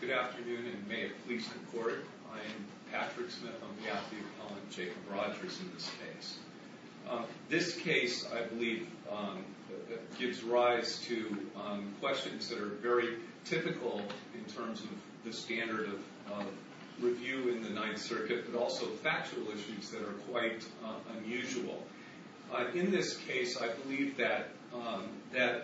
Good afternoon, and may it please the court, I am Patrick Smith. I'm happy to comment on Jacob Rogers in this case. This case, I believe, gives rise to questions that are very typical in terms of the standard of review in the Ninth Circuit, but also factual issues that are quite unusual. In this case, I believe that there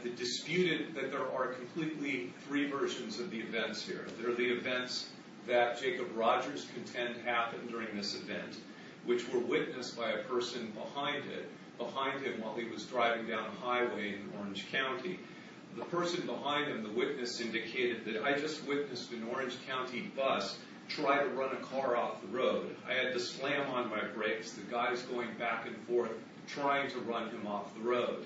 are completely three versions of the events here. There are the events that Jacob Rogers contends happened during this event, which were witnessed by a person behind him while he was driving down a highway in Orange County. The person behind him, the witness, indicated that, I just witnessed an Orange County bus try to run a car off the road. I had to slam on my brakes. The guy's going back and forth trying to run him off the road.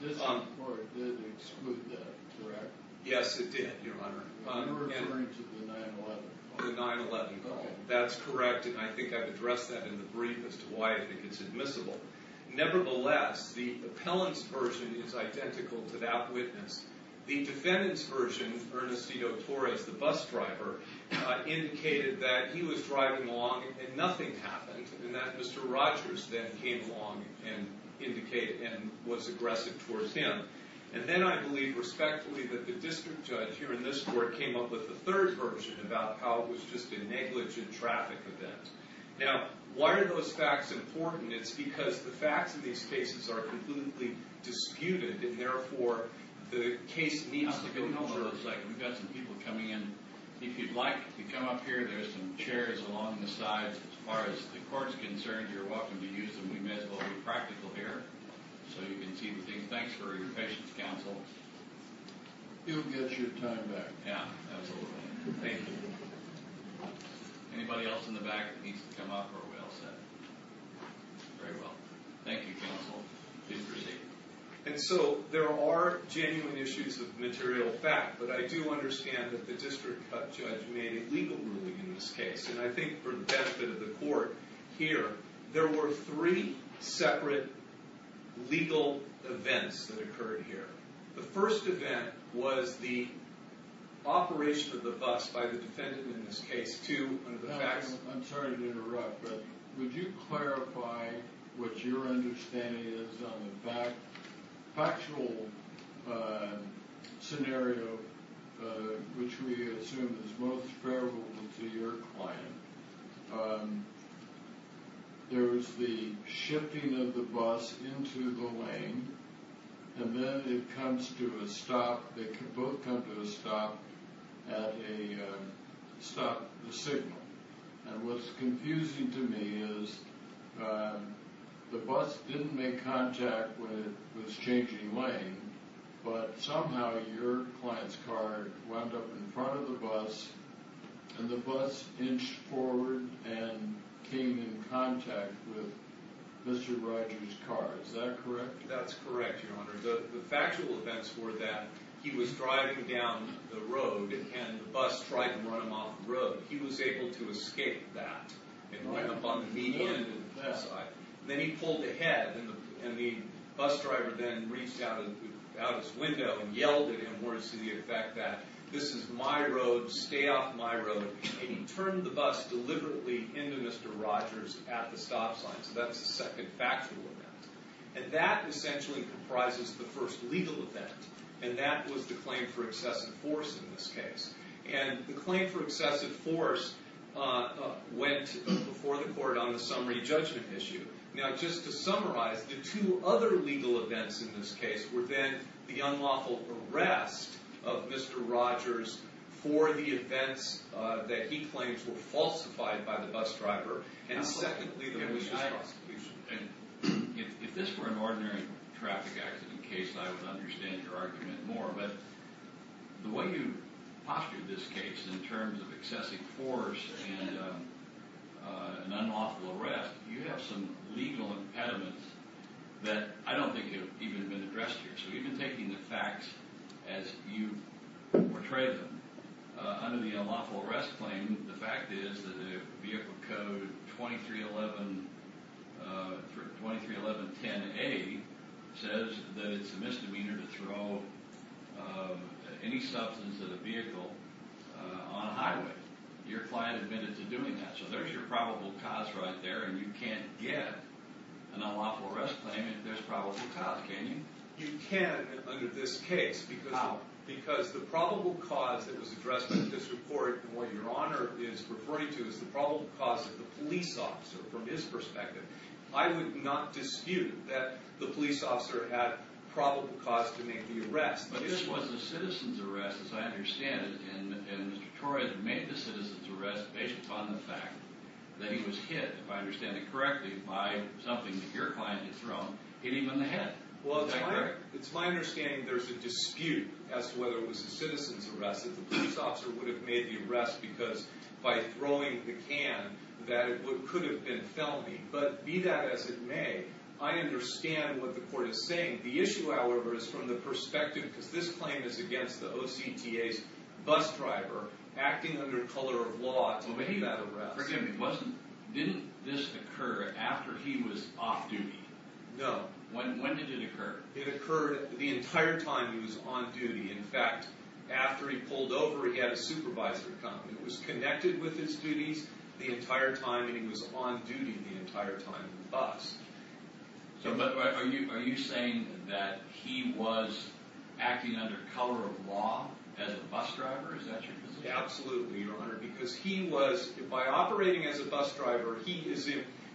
This court did exclude that, correct? Yes, it did, Your Honor. You're referring to the 9-11 call? The 9-11 call. That's correct, and I think I've addressed that in the brief as to why I think it's admissible. Nevertheless, the appellant's version is identical to that witnessed. The defendant's version, Ernestito Torres, the bus driver, indicated that he was driving along and nothing happened, and that Mr. Rogers then came along and was aggressive towards him. And then I believe respectfully that the district judge here in this court came up with the third version about how it was just a negligent traffic event. Now, why are those facts important? It's because the facts of these cases are completely disputed, and therefore, the case needs to go forward. We've got some people coming in. If you'd like to come up here, there's some chairs along the sides. As far as the court's concerned, you're welcome to use them. We may as well be practical here so you can see the things. Thanks for your patience, counsel. He'll get your time back. Yeah, absolutely. Thank you. Anybody else in the back that needs to come up or we all set? Very well. Thank you, counsel. Please proceed. And so there are genuine issues of material fact, but I do understand that the district judge made a legal ruling in this case. And I think for the benefit of the court here, there were three separate legal events that occurred here. The first event was the operation of the bus by the defendant in this case. I'm sorry to interrupt, but would you clarify what your understanding is on the factual scenario, which we assume is most favorable to your client? There was the shifting of the bus into the lane, and then it comes to a stop. They both come to a stop at a stop signal. And what's confusing to me is the bus didn't make contact when it was changing lane, but somehow your client's car wound up in front of the bus, and the bus inched forward and came in contact with Mr. Rogers' car. Is that correct? That's correct, Your Honor. The factual events were that he was driving down the road, and the bus tried to run him off the road. He was able to escape that and wind up on the median side. Then he pulled ahead, and the bus driver then reached out his window and yelled at him words to the effect that, this is my road, stay off my road. And he turned the bus deliberately into Mr. Rogers at the stop sign. So that's the second factual event. And that essentially comprises the first legal event, and that was the claim for excessive force in this case. And the claim for excessive force went before the court on the summary judgment issue. Now, just to summarize, the two other legal events in this case were then the unlawful arrest of Mr. Rogers for the events that he claims were falsified by the bus driver, and secondly, the malicious prosecution. If this were an ordinary traffic accident case, I would understand your argument more. But the way you postured this case in terms of excessive force and an unlawful arrest, you have some legal impediments that I don't think have even been addressed here. So you've been taking the facts as you portray them. Under the unlawful arrest claim, the fact is that the vehicle code 231110A says that it's a misdemeanor to throw any substance of the vehicle on a highway. Your client admitted to doing that. So there's your probable cause right there, and you can't get an unlawful arrest claim if there's probable cause, can you? You can under this case. How? Because the probable cause that was addressed in this report, and what Your Honor is referring to, is the probable cause of the police officer, from his perspective. I would not dispute that the police officer had probable cause to make the arrest. But this was a citizen's arrest, as I understand it, and Mr. Torres made the citizen's arrest based upon the fact that he was hit, if I understand it correctly, by something that your client had thrown hitting him in the head. Well, it's my understanding there's a dispute as to whether it was a citizen's arrest, that the police officer would have made the arrest because, by throwing the can, that it could have been felony. But be that as it may, I understand what the court is saying. The issue, however, is from the perspective, because this claim is against the OCTA's bus driver, acting under color of law to make that arrest. Well, but he wasn't, didn't this occur after he was off duty? No. When did it occur? It occurred the entire time he was on duty. In fact, after he pulled over, he had a supervisor come. He was connected with his duties the entire time, and he was on duty the entire time in the bus. But are you saying that he was acting under color of law as a bus driver? Is that your position? Absolutely, Your Honor. Because he was, by operating as a bus driver, he is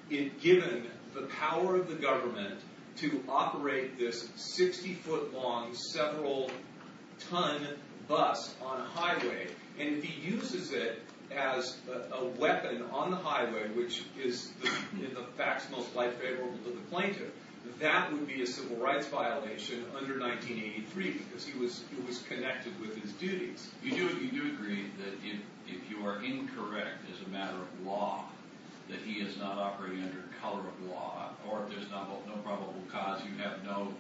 given the power of the government to operate this 60-foot-long, several-ton bus on a highway. And if he uses it as a weapon on the highway, which is in the facts most likely favorable to the plaintiff, that would be a civil rights violation under 1983, You do agree that if you are incorrect as a matter of law, that he is not operating under color of law, or if there's no probable cause, you have no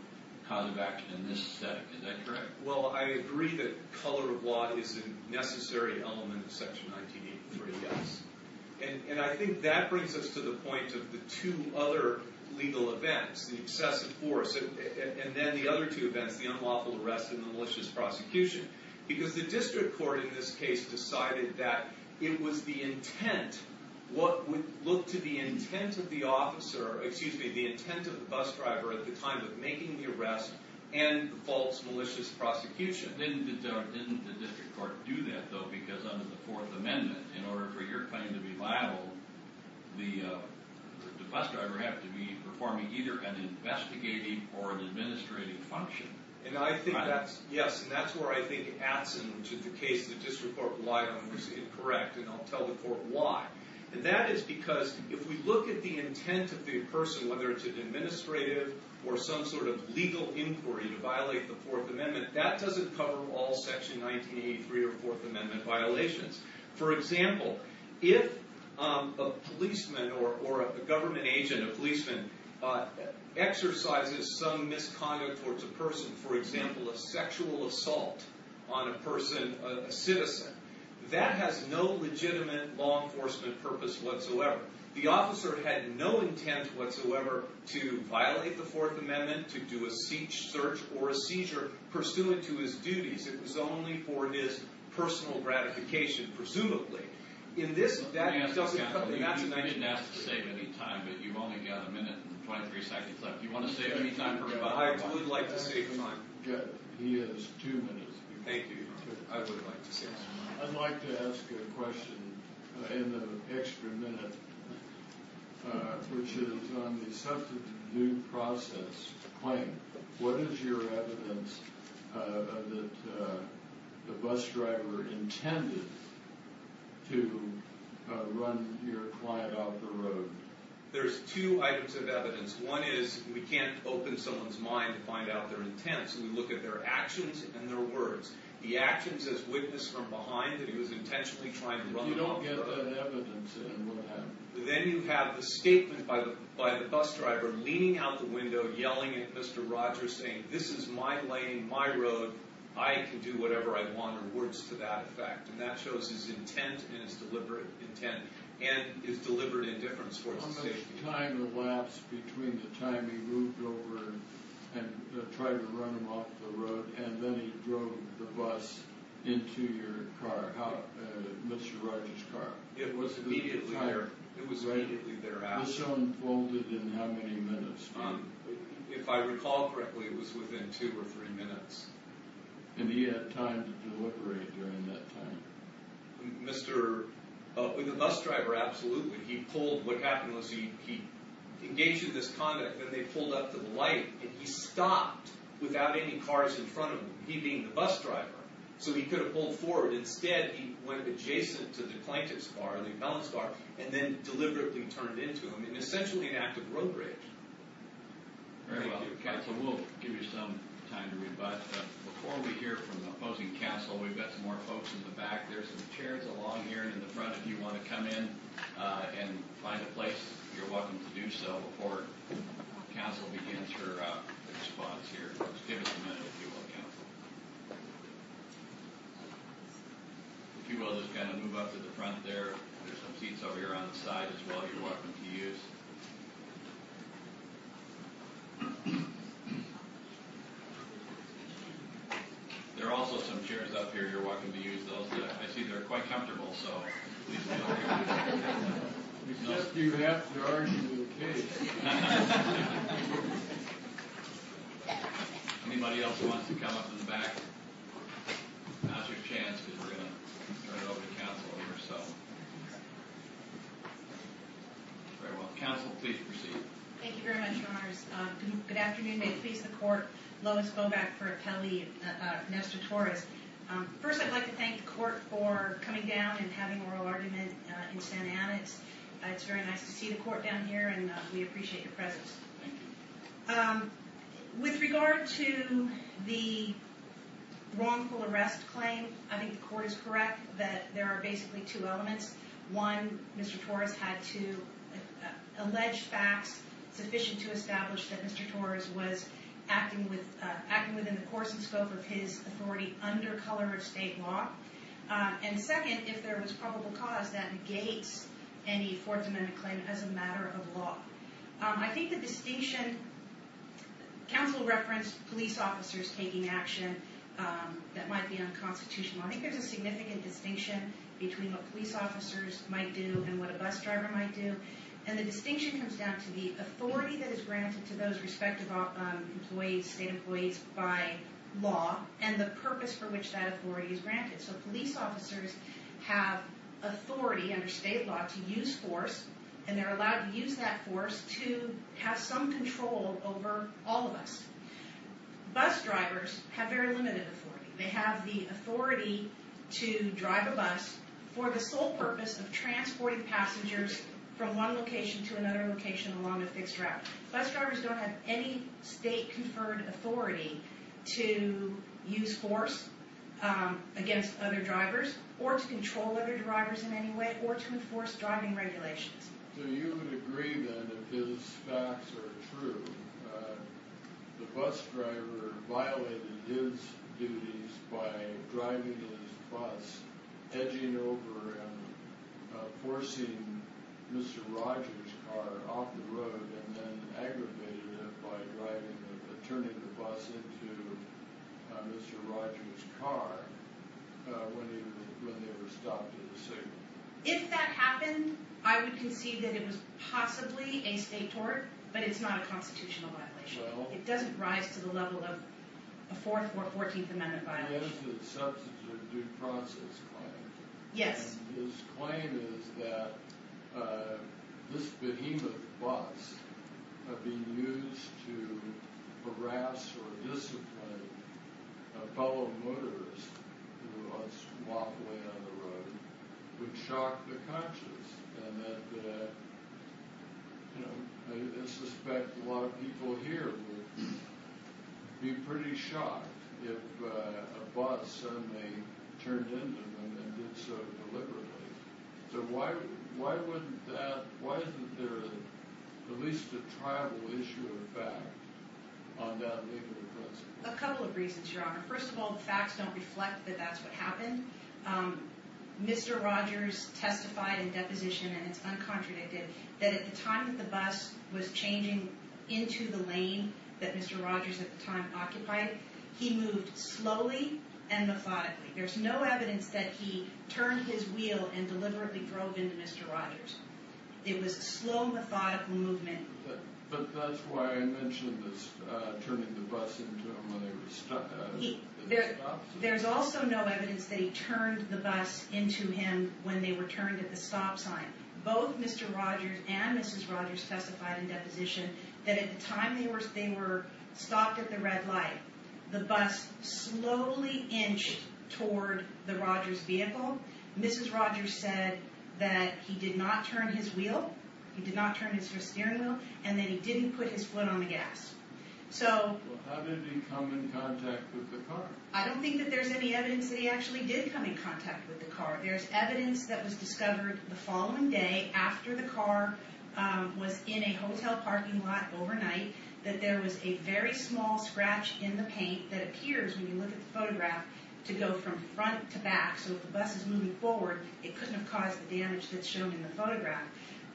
cause of action in this setting. Is that correct? Well, I agree that color of law is a necessary element of Section 1983, yes. And I think that brings us to the point of the two other legal events, the excessive force, and then the other two events, the unlawful arrest and the malicious prosecution. Because the district court in this case decided that it was the intent, what would look to the intent of the officer, excuse me, the intent of the bus driver at the time of making the arrest and the false, malicious prosecution. Didn't the district court do that, though? Because under the Fourth Amendment, in order for your claim to be liable, the bus driver had to be performing either an investigating or an administrating function. And I think that's, yes, and that's where I think Atzin, which is the case of the district court, was incorrect, and I'll tell the court why. And that is because if we look at the intent of the person, whether it's an administrative or some sort of legal inquiry to violate the Fourth Amendment, that doesn't cover all Section 1983 or Fourth Amendment violations. For example, if a policeman or a government agent, a policeman, exercises some misconduct towards a person, for example, a sexual assault on a person, a citizen, that has no legitimate law enforcement purpose whatsoever. The officer had no intent whatsoever to violate the Fourth Amendment, to do a search or a seizure pursuant to his duties. It was only for his personal gratification, presumably. In this, that doesn't cover anything. Atzin, I shouldn't ask you to save any time, but you've only got a minute and 23 seconds left. Do you want to save any time for rebuttal? I would like to save the time. He has too many. Thank you. I would like to save the time. I'd like to ask a question in the extra minute, which is on the substantive due process claim. What is your evidence that the bus driver intended to run your client off the road? There's two items of evidence. One is we can't open someone's mind to find out their intents. We look at their actions and their words. The actions as witnessed from behind that he was intentionally trying to run the bus driver. You don't get that evidence in what happened. Then you have the statement by the bus driver, leaning out the window, yelling at Mr. Rogers, saying, This is my lane, my road. I can do whatever I want, or words to that effect. And that shows his intent and his deliberate intent and his deliberate indifference towards the safety. Did the time elapse between the time he moved over and tried to run him off the road, and then he drove the bus into your car, Mr. Rogers' car? It was immediately thereafter. It was so unfolded in how many minutes? If I recall correctly, it was within two or three minutes. And he had time to deliberate during that time? With the bus driver, absolutely. He pulled. What happened was he engaged in this conduct. Then they pulled up to the light, and he stopped without any cars in front of him, he being the bus driver. So he could have pulled forward. Instead, he went adjacent to the plaintiff's car, the impellent's car, and then deliberately turned into him in essentially an act of road rage. Thank you, counsel. We'll give you some time to read, but before we hear from the opposing counsel, we've got some more folks in the back. There are some chairs along here in the front. If you want to come in and find a place, you're welcome to do so before counsel begins her response here. Just give us a minute, if you will, counsel. If you will, just kind of move up to the front there. There are some seats over here on the side as well you're welcome to use. There are also some chairs up here you're welcome to use. I see they're quite comfortable, so... We suggest you have to argue with the case. Anybody else want to come up in the back? Now's your chance, because we're going to turn it over to counsel. All right, well, counsel, if you will. Counsel, please proceed. Thank you very much, your honors. Good afternoon. May the peace of the court. Lois Boback for appellee, Nestor Torres. First, I'd like to thank the court for coming down and having oral argument in Santa Ana. It's very nice to see the court down here, and we appreciate your presence. Thank you. With regard to the wrongful arrest claim, I think the court is correct that there are basically two elements. One, Mr. Torres had to allege facts sufficient to establish that Mr. Torres was acting within the course and scope of his authority under color of state law. And second, if there was probable cause, that negates any Fourth Amendment claim as a matter of law. I think the distinction... Counsel referenced police officers taking action that might be unconstitutional. I think there's a significant distinction between what police officers might do and what a bus driver might do. And the distinction comes down to the authority that is granted to those respective state employees by law and the purpose for which that authority is granted. So police officers have authority under state law to use force, and they're allowed to use that force to have some control over all of us. Bus drivers have very limited authority. They have the authority to drive a bus for the sole purpose of transporting passengers from one location to another location along a fixed route. Bus drivers don't have any state-conferred authority to use force against other drivers, or to control other drivers in any way, or to enforce driving regulations. So you would agree, then, if his facts are true, the bus driver violated his duties by driving his bus, edging over and forcing Mr. Rogers' car off the road, and then aggravated it by turning the bus into Mr. Rogers' car when they were stopped at a signal. If that happened, I would concede that it was possibly a state tort, but it's not a constitutional violation. It doesn't rise to the level of a Fourth or Fourteenth Amendment violation. Yes. A couple of reasons, Your Honor. First of all, the facts don't reflect that that's what happened. Mr. Rogers testified in deposition, and it's uncontradicted, that at the time that the bus was changing into the lane that Mr. Rogers at the time occupied, he moved slowly and methodically. There's no evidence that he turned his wheel and deliberately drove into Mr. Rogers. It was a slow, methodical movement. But that's why I mentioned turning the bus into him when they were stopped at the stop sign. There's also no evidence that he turned the bus into him when they were turned at the stop sign. Both Mr. Rogers and Mrs. Rogers testified in deposition that at the time they were stopped at the red light, the bus slowly inched toward the Rogers' vehicle. Mrs. Rogers said that he did not turn his wheel, he did not turn his steering wheel, and that he didn't put his foot on the gas. So... Well, how did he come in contact with the car? I don't think that there's any evidence that he actually did come in contact with the car. There's evidence that was discovered the following day, after the car was in a hotel parking lot overnight, that there was a very small scratch in the paint that appears, when you look at the photograph, to go from front to back. So if the bus is moving forward, it couldn't have caused the damage that's shown in the photograph.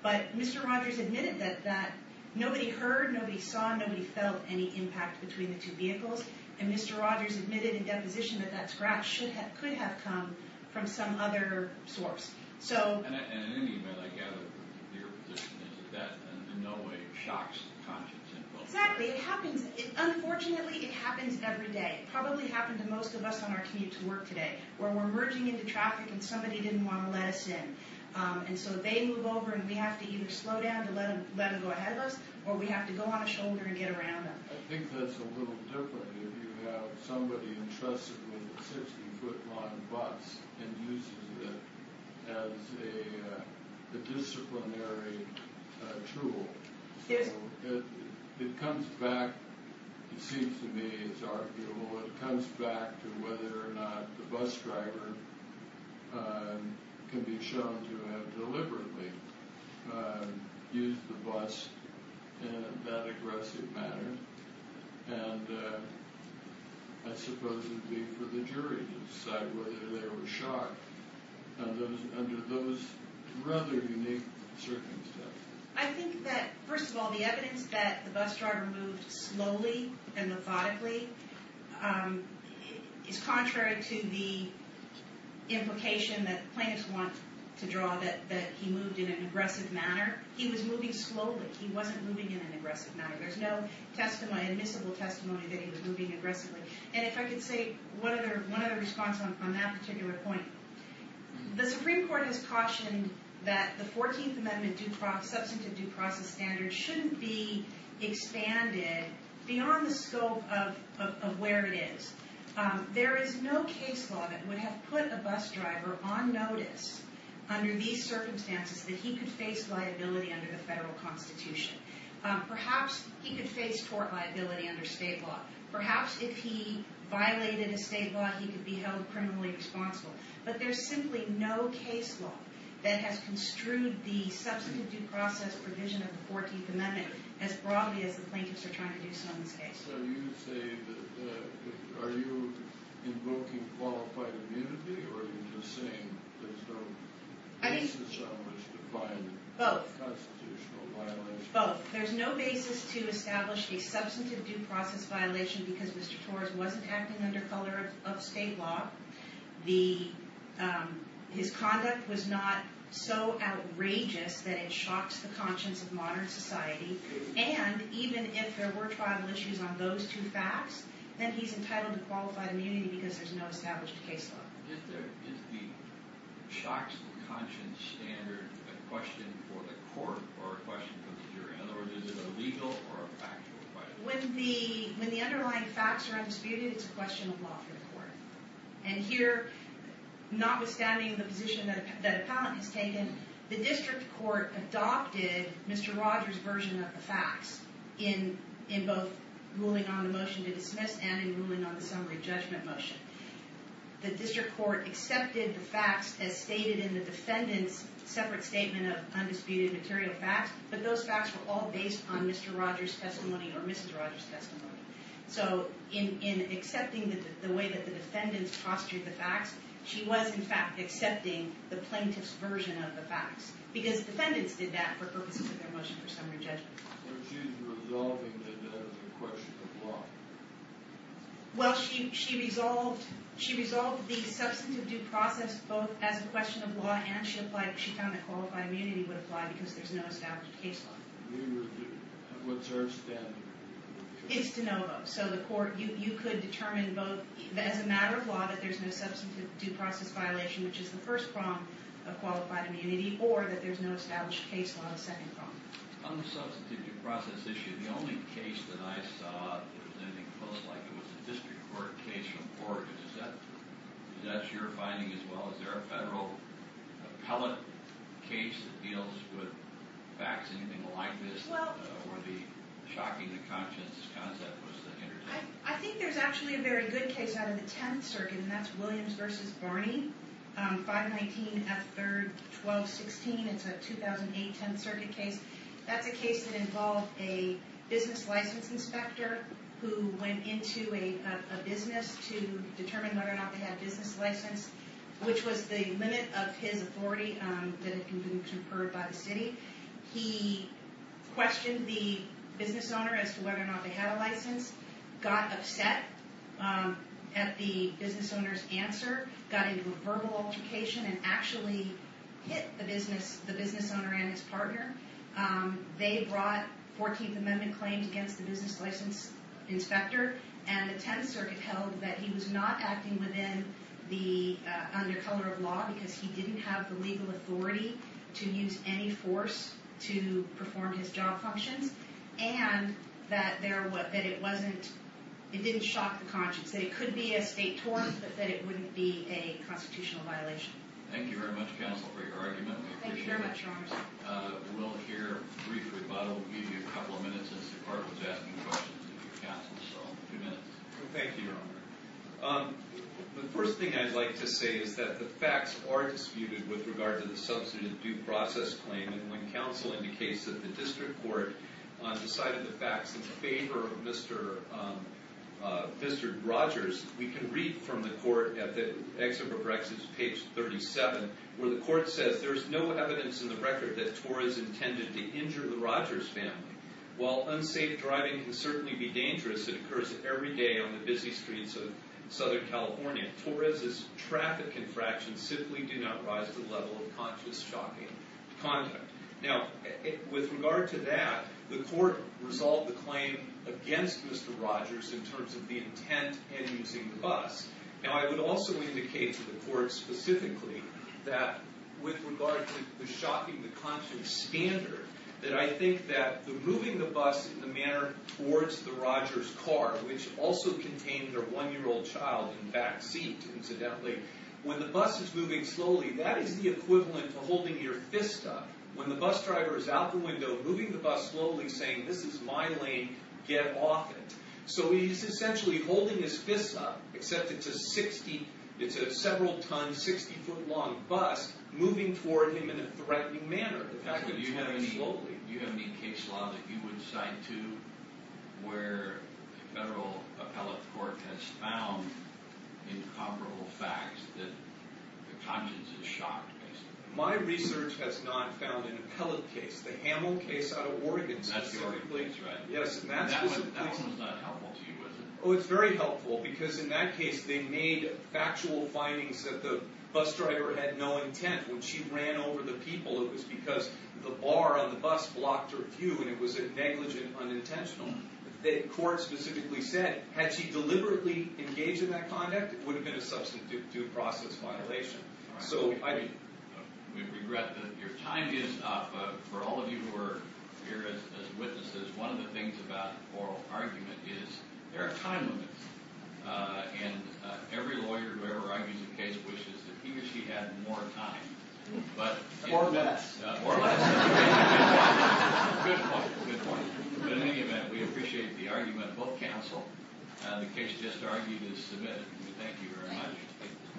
But Mr. Rogers admitted that nobody heard, nobody saw, nobody felt any impact between the two vehicles. And Mr. Rogers admitted in deposition that that scratch could have come from some other source. So... And in any event, I gather your position is that that in no way shocks the conscience of... Exactly. It happens. Unfortunately, it happens every day. It probably happened to most of us on our commute to work today, where we're merging into traffic and somebody didn't want to let us in. And so they move over and we have to either slow down to let them go ahead of us, or we have to go on a shoulder and get around them. I think that's a little different if you have somebody entrusted with a 60-foot-long bus and uses it as a disciplinary tool. So it comes back, it seems to me, it's arguable, it comes back to whether or not the bus driver can be shown to have deliberately used the bus in that aggressive manner. And I suppose it would be for the jury to decide whether they were shocked under those rather unique circumstances. I think that, first of all, the evidence that the bus driver moved slowly and methodically is contrary to the implication that plaintiffs want to draw that he moved in an aggressive manner. He was moving slowly. He wasn't moving in an aggressive manner. There's no admissible testimony that he was moving aggressively. And if I could say one other response on that particular point. The Supreme Court has cautioned that the 14th Amendment substantive due process standards shouldn't be expanded beyond the scope of where it is. There is no case law that would have put a bus driver on notice under these circumstances that he could face liability under the federal constitution. Perhaps he could face tort liability under state law. Perhaps if he violated a state law, he could be held criminally responsible. But there's simply no case law that has construed the substantive due process provision of the 14th Amendment as broadly as the plaintiffs are trying to do so in this case. Are you invoking qualified immunity or are you just saying there's no basis on which to find constitutional violation? Both. There's no basis to establish a substantive due process violation because Mr. Torres wasn't acting under color of state law. His conduct was not so outrageous that it shocks the conscience of modern society. And even if there were tribal issues on those two facts, then he's entitled to qualified immunity because there's no established case law. Is the shocks of conscience standard a question for the court or a question for the jury? In other words, is it a legal or a factual question? When the underlying facts are undisputed, it's a question of law for the court. And here, notwithstanding the position that appellant has taken, the district court adopted Mr. Rogers' version of the facts in both ruling on the motion to dismiss and in ruling on the summary judgment motion. The district court accepted the facts as stated in the defendant's separate statement of undisputed material facts, but those facts were all based on Mr. Rogers' testimony or Mrs. Rogers' testimony. So in accepting the way that the defendants postured the facts, she was in fact accepting the plaintiff's version of the facts because defendants did that for purposes of their motion for summary judgment. So she's resolving it as a question of law? Well, she resolved the substantive due process both as a question of law and she found that qualified immunity would apply because there's no established case law. What's her standard? It's de novo. So the court, you could determine both as a matter of law that there's no substantive due process violation, which is the first prong of qualified immunity, or that there's no established case law, the second prong. On the substantive due process issue, the only case that I saw that was anything close like it was a district court case report, is that your finding as well? Is there a federal appellate case that deals with facts, anything like this, where the shocking-to-conscience concept was the hindrance? I think there's actually a very good case out of the Tenth Circuit, and that's Williams v. Barney, 519 F. 3rd 1216. It's a 2008 Tenth Circuit case. That's a case that involved a business license inspector who went into a business to determine whether or not they had a business license, which was the limit of his authority that had been conferred by the city. He questioned the business owner as to whether or not they had a license, got upset at the business owner's answer, got into a verbal altercation, and actually hit the business owner and his partner. They brought 14th Amendment claims against the business license inspector, and the Tenth Circuit held that he was not acting within the undercutter of law because he didn't have the legal authority to use any force to perform his job functions, and that it didn't shock the conscience. That it could be a state torrent, but that it wouldn't be a constitutional violation. Thank you very much, counsel, for your argument. We'll hear a brief rebuttal, maybe a couple of minutes, since the court was asking questions of your counsel, so two minutes. Thank you, Your Honor. The first thing I'd like to say is that the facts are disputed with regard to the substantive due process claim, and when counsel indicates that the district court decided the facts in favor of Mr. Rogers, we can read from the court, at the Excerpt of Rex's page 37, where the court says, There is no evidence in the record that Torres intended to injure the Rogers family. While unsafe driving can certainly be dangerous, it occurs every day on the busy streets of Southern California, Torres's traffic infractions simply do not rise to the level of conscious shocking conduct. Now, with regard to that, the court resolved the claim against Mr. Rogers in terms of the intent and using the bus. Now, I would also indicate to the court, specifically, that with regard to the shocking, the conscious standard, that I think that the moving the bus in the manner towards the Rogers car, which also contained their one-year-old child in backseat, incidentally, when the bus is moving slowly, that is the equivalent to holding your fist up. When the bus driver is out the window, moving the bus slowly, saying, this is my lane, get off it. So he's essentially holding his fist up, except it's a several-ton, 60-foot-long bus, moving toward him in a threatening manner. Do you have any case law that you would cite, too, where a federal appellate court has found incomparable facts that the conscious is shocked, basically? My research has not found an appellate case. The Hamill case out of Oregon, specifically. That's your case, right? Yes. That one was not helpful to you, was it? Oh, it's very helpful, because in that case, they made factual findings that the bus driver had no intent. When she ran over the people, it was because the bar on the bus blocked her view, and it was negligent, unintentional. The court specifically said, had she deliberately engaged in that conduct, it would have been a substantive due process violation. All right. We regret that your time is up. For all of you who are here as witnesses, one of the things about oral argument is there are time limits. And every lawyer who ever argues a case wishes that he or she had more time. Four minutes. Four minutes. Good point, good point. But in any event, we appreciate the argument. Both counsel, the case just argued is submitted. Thank you very much.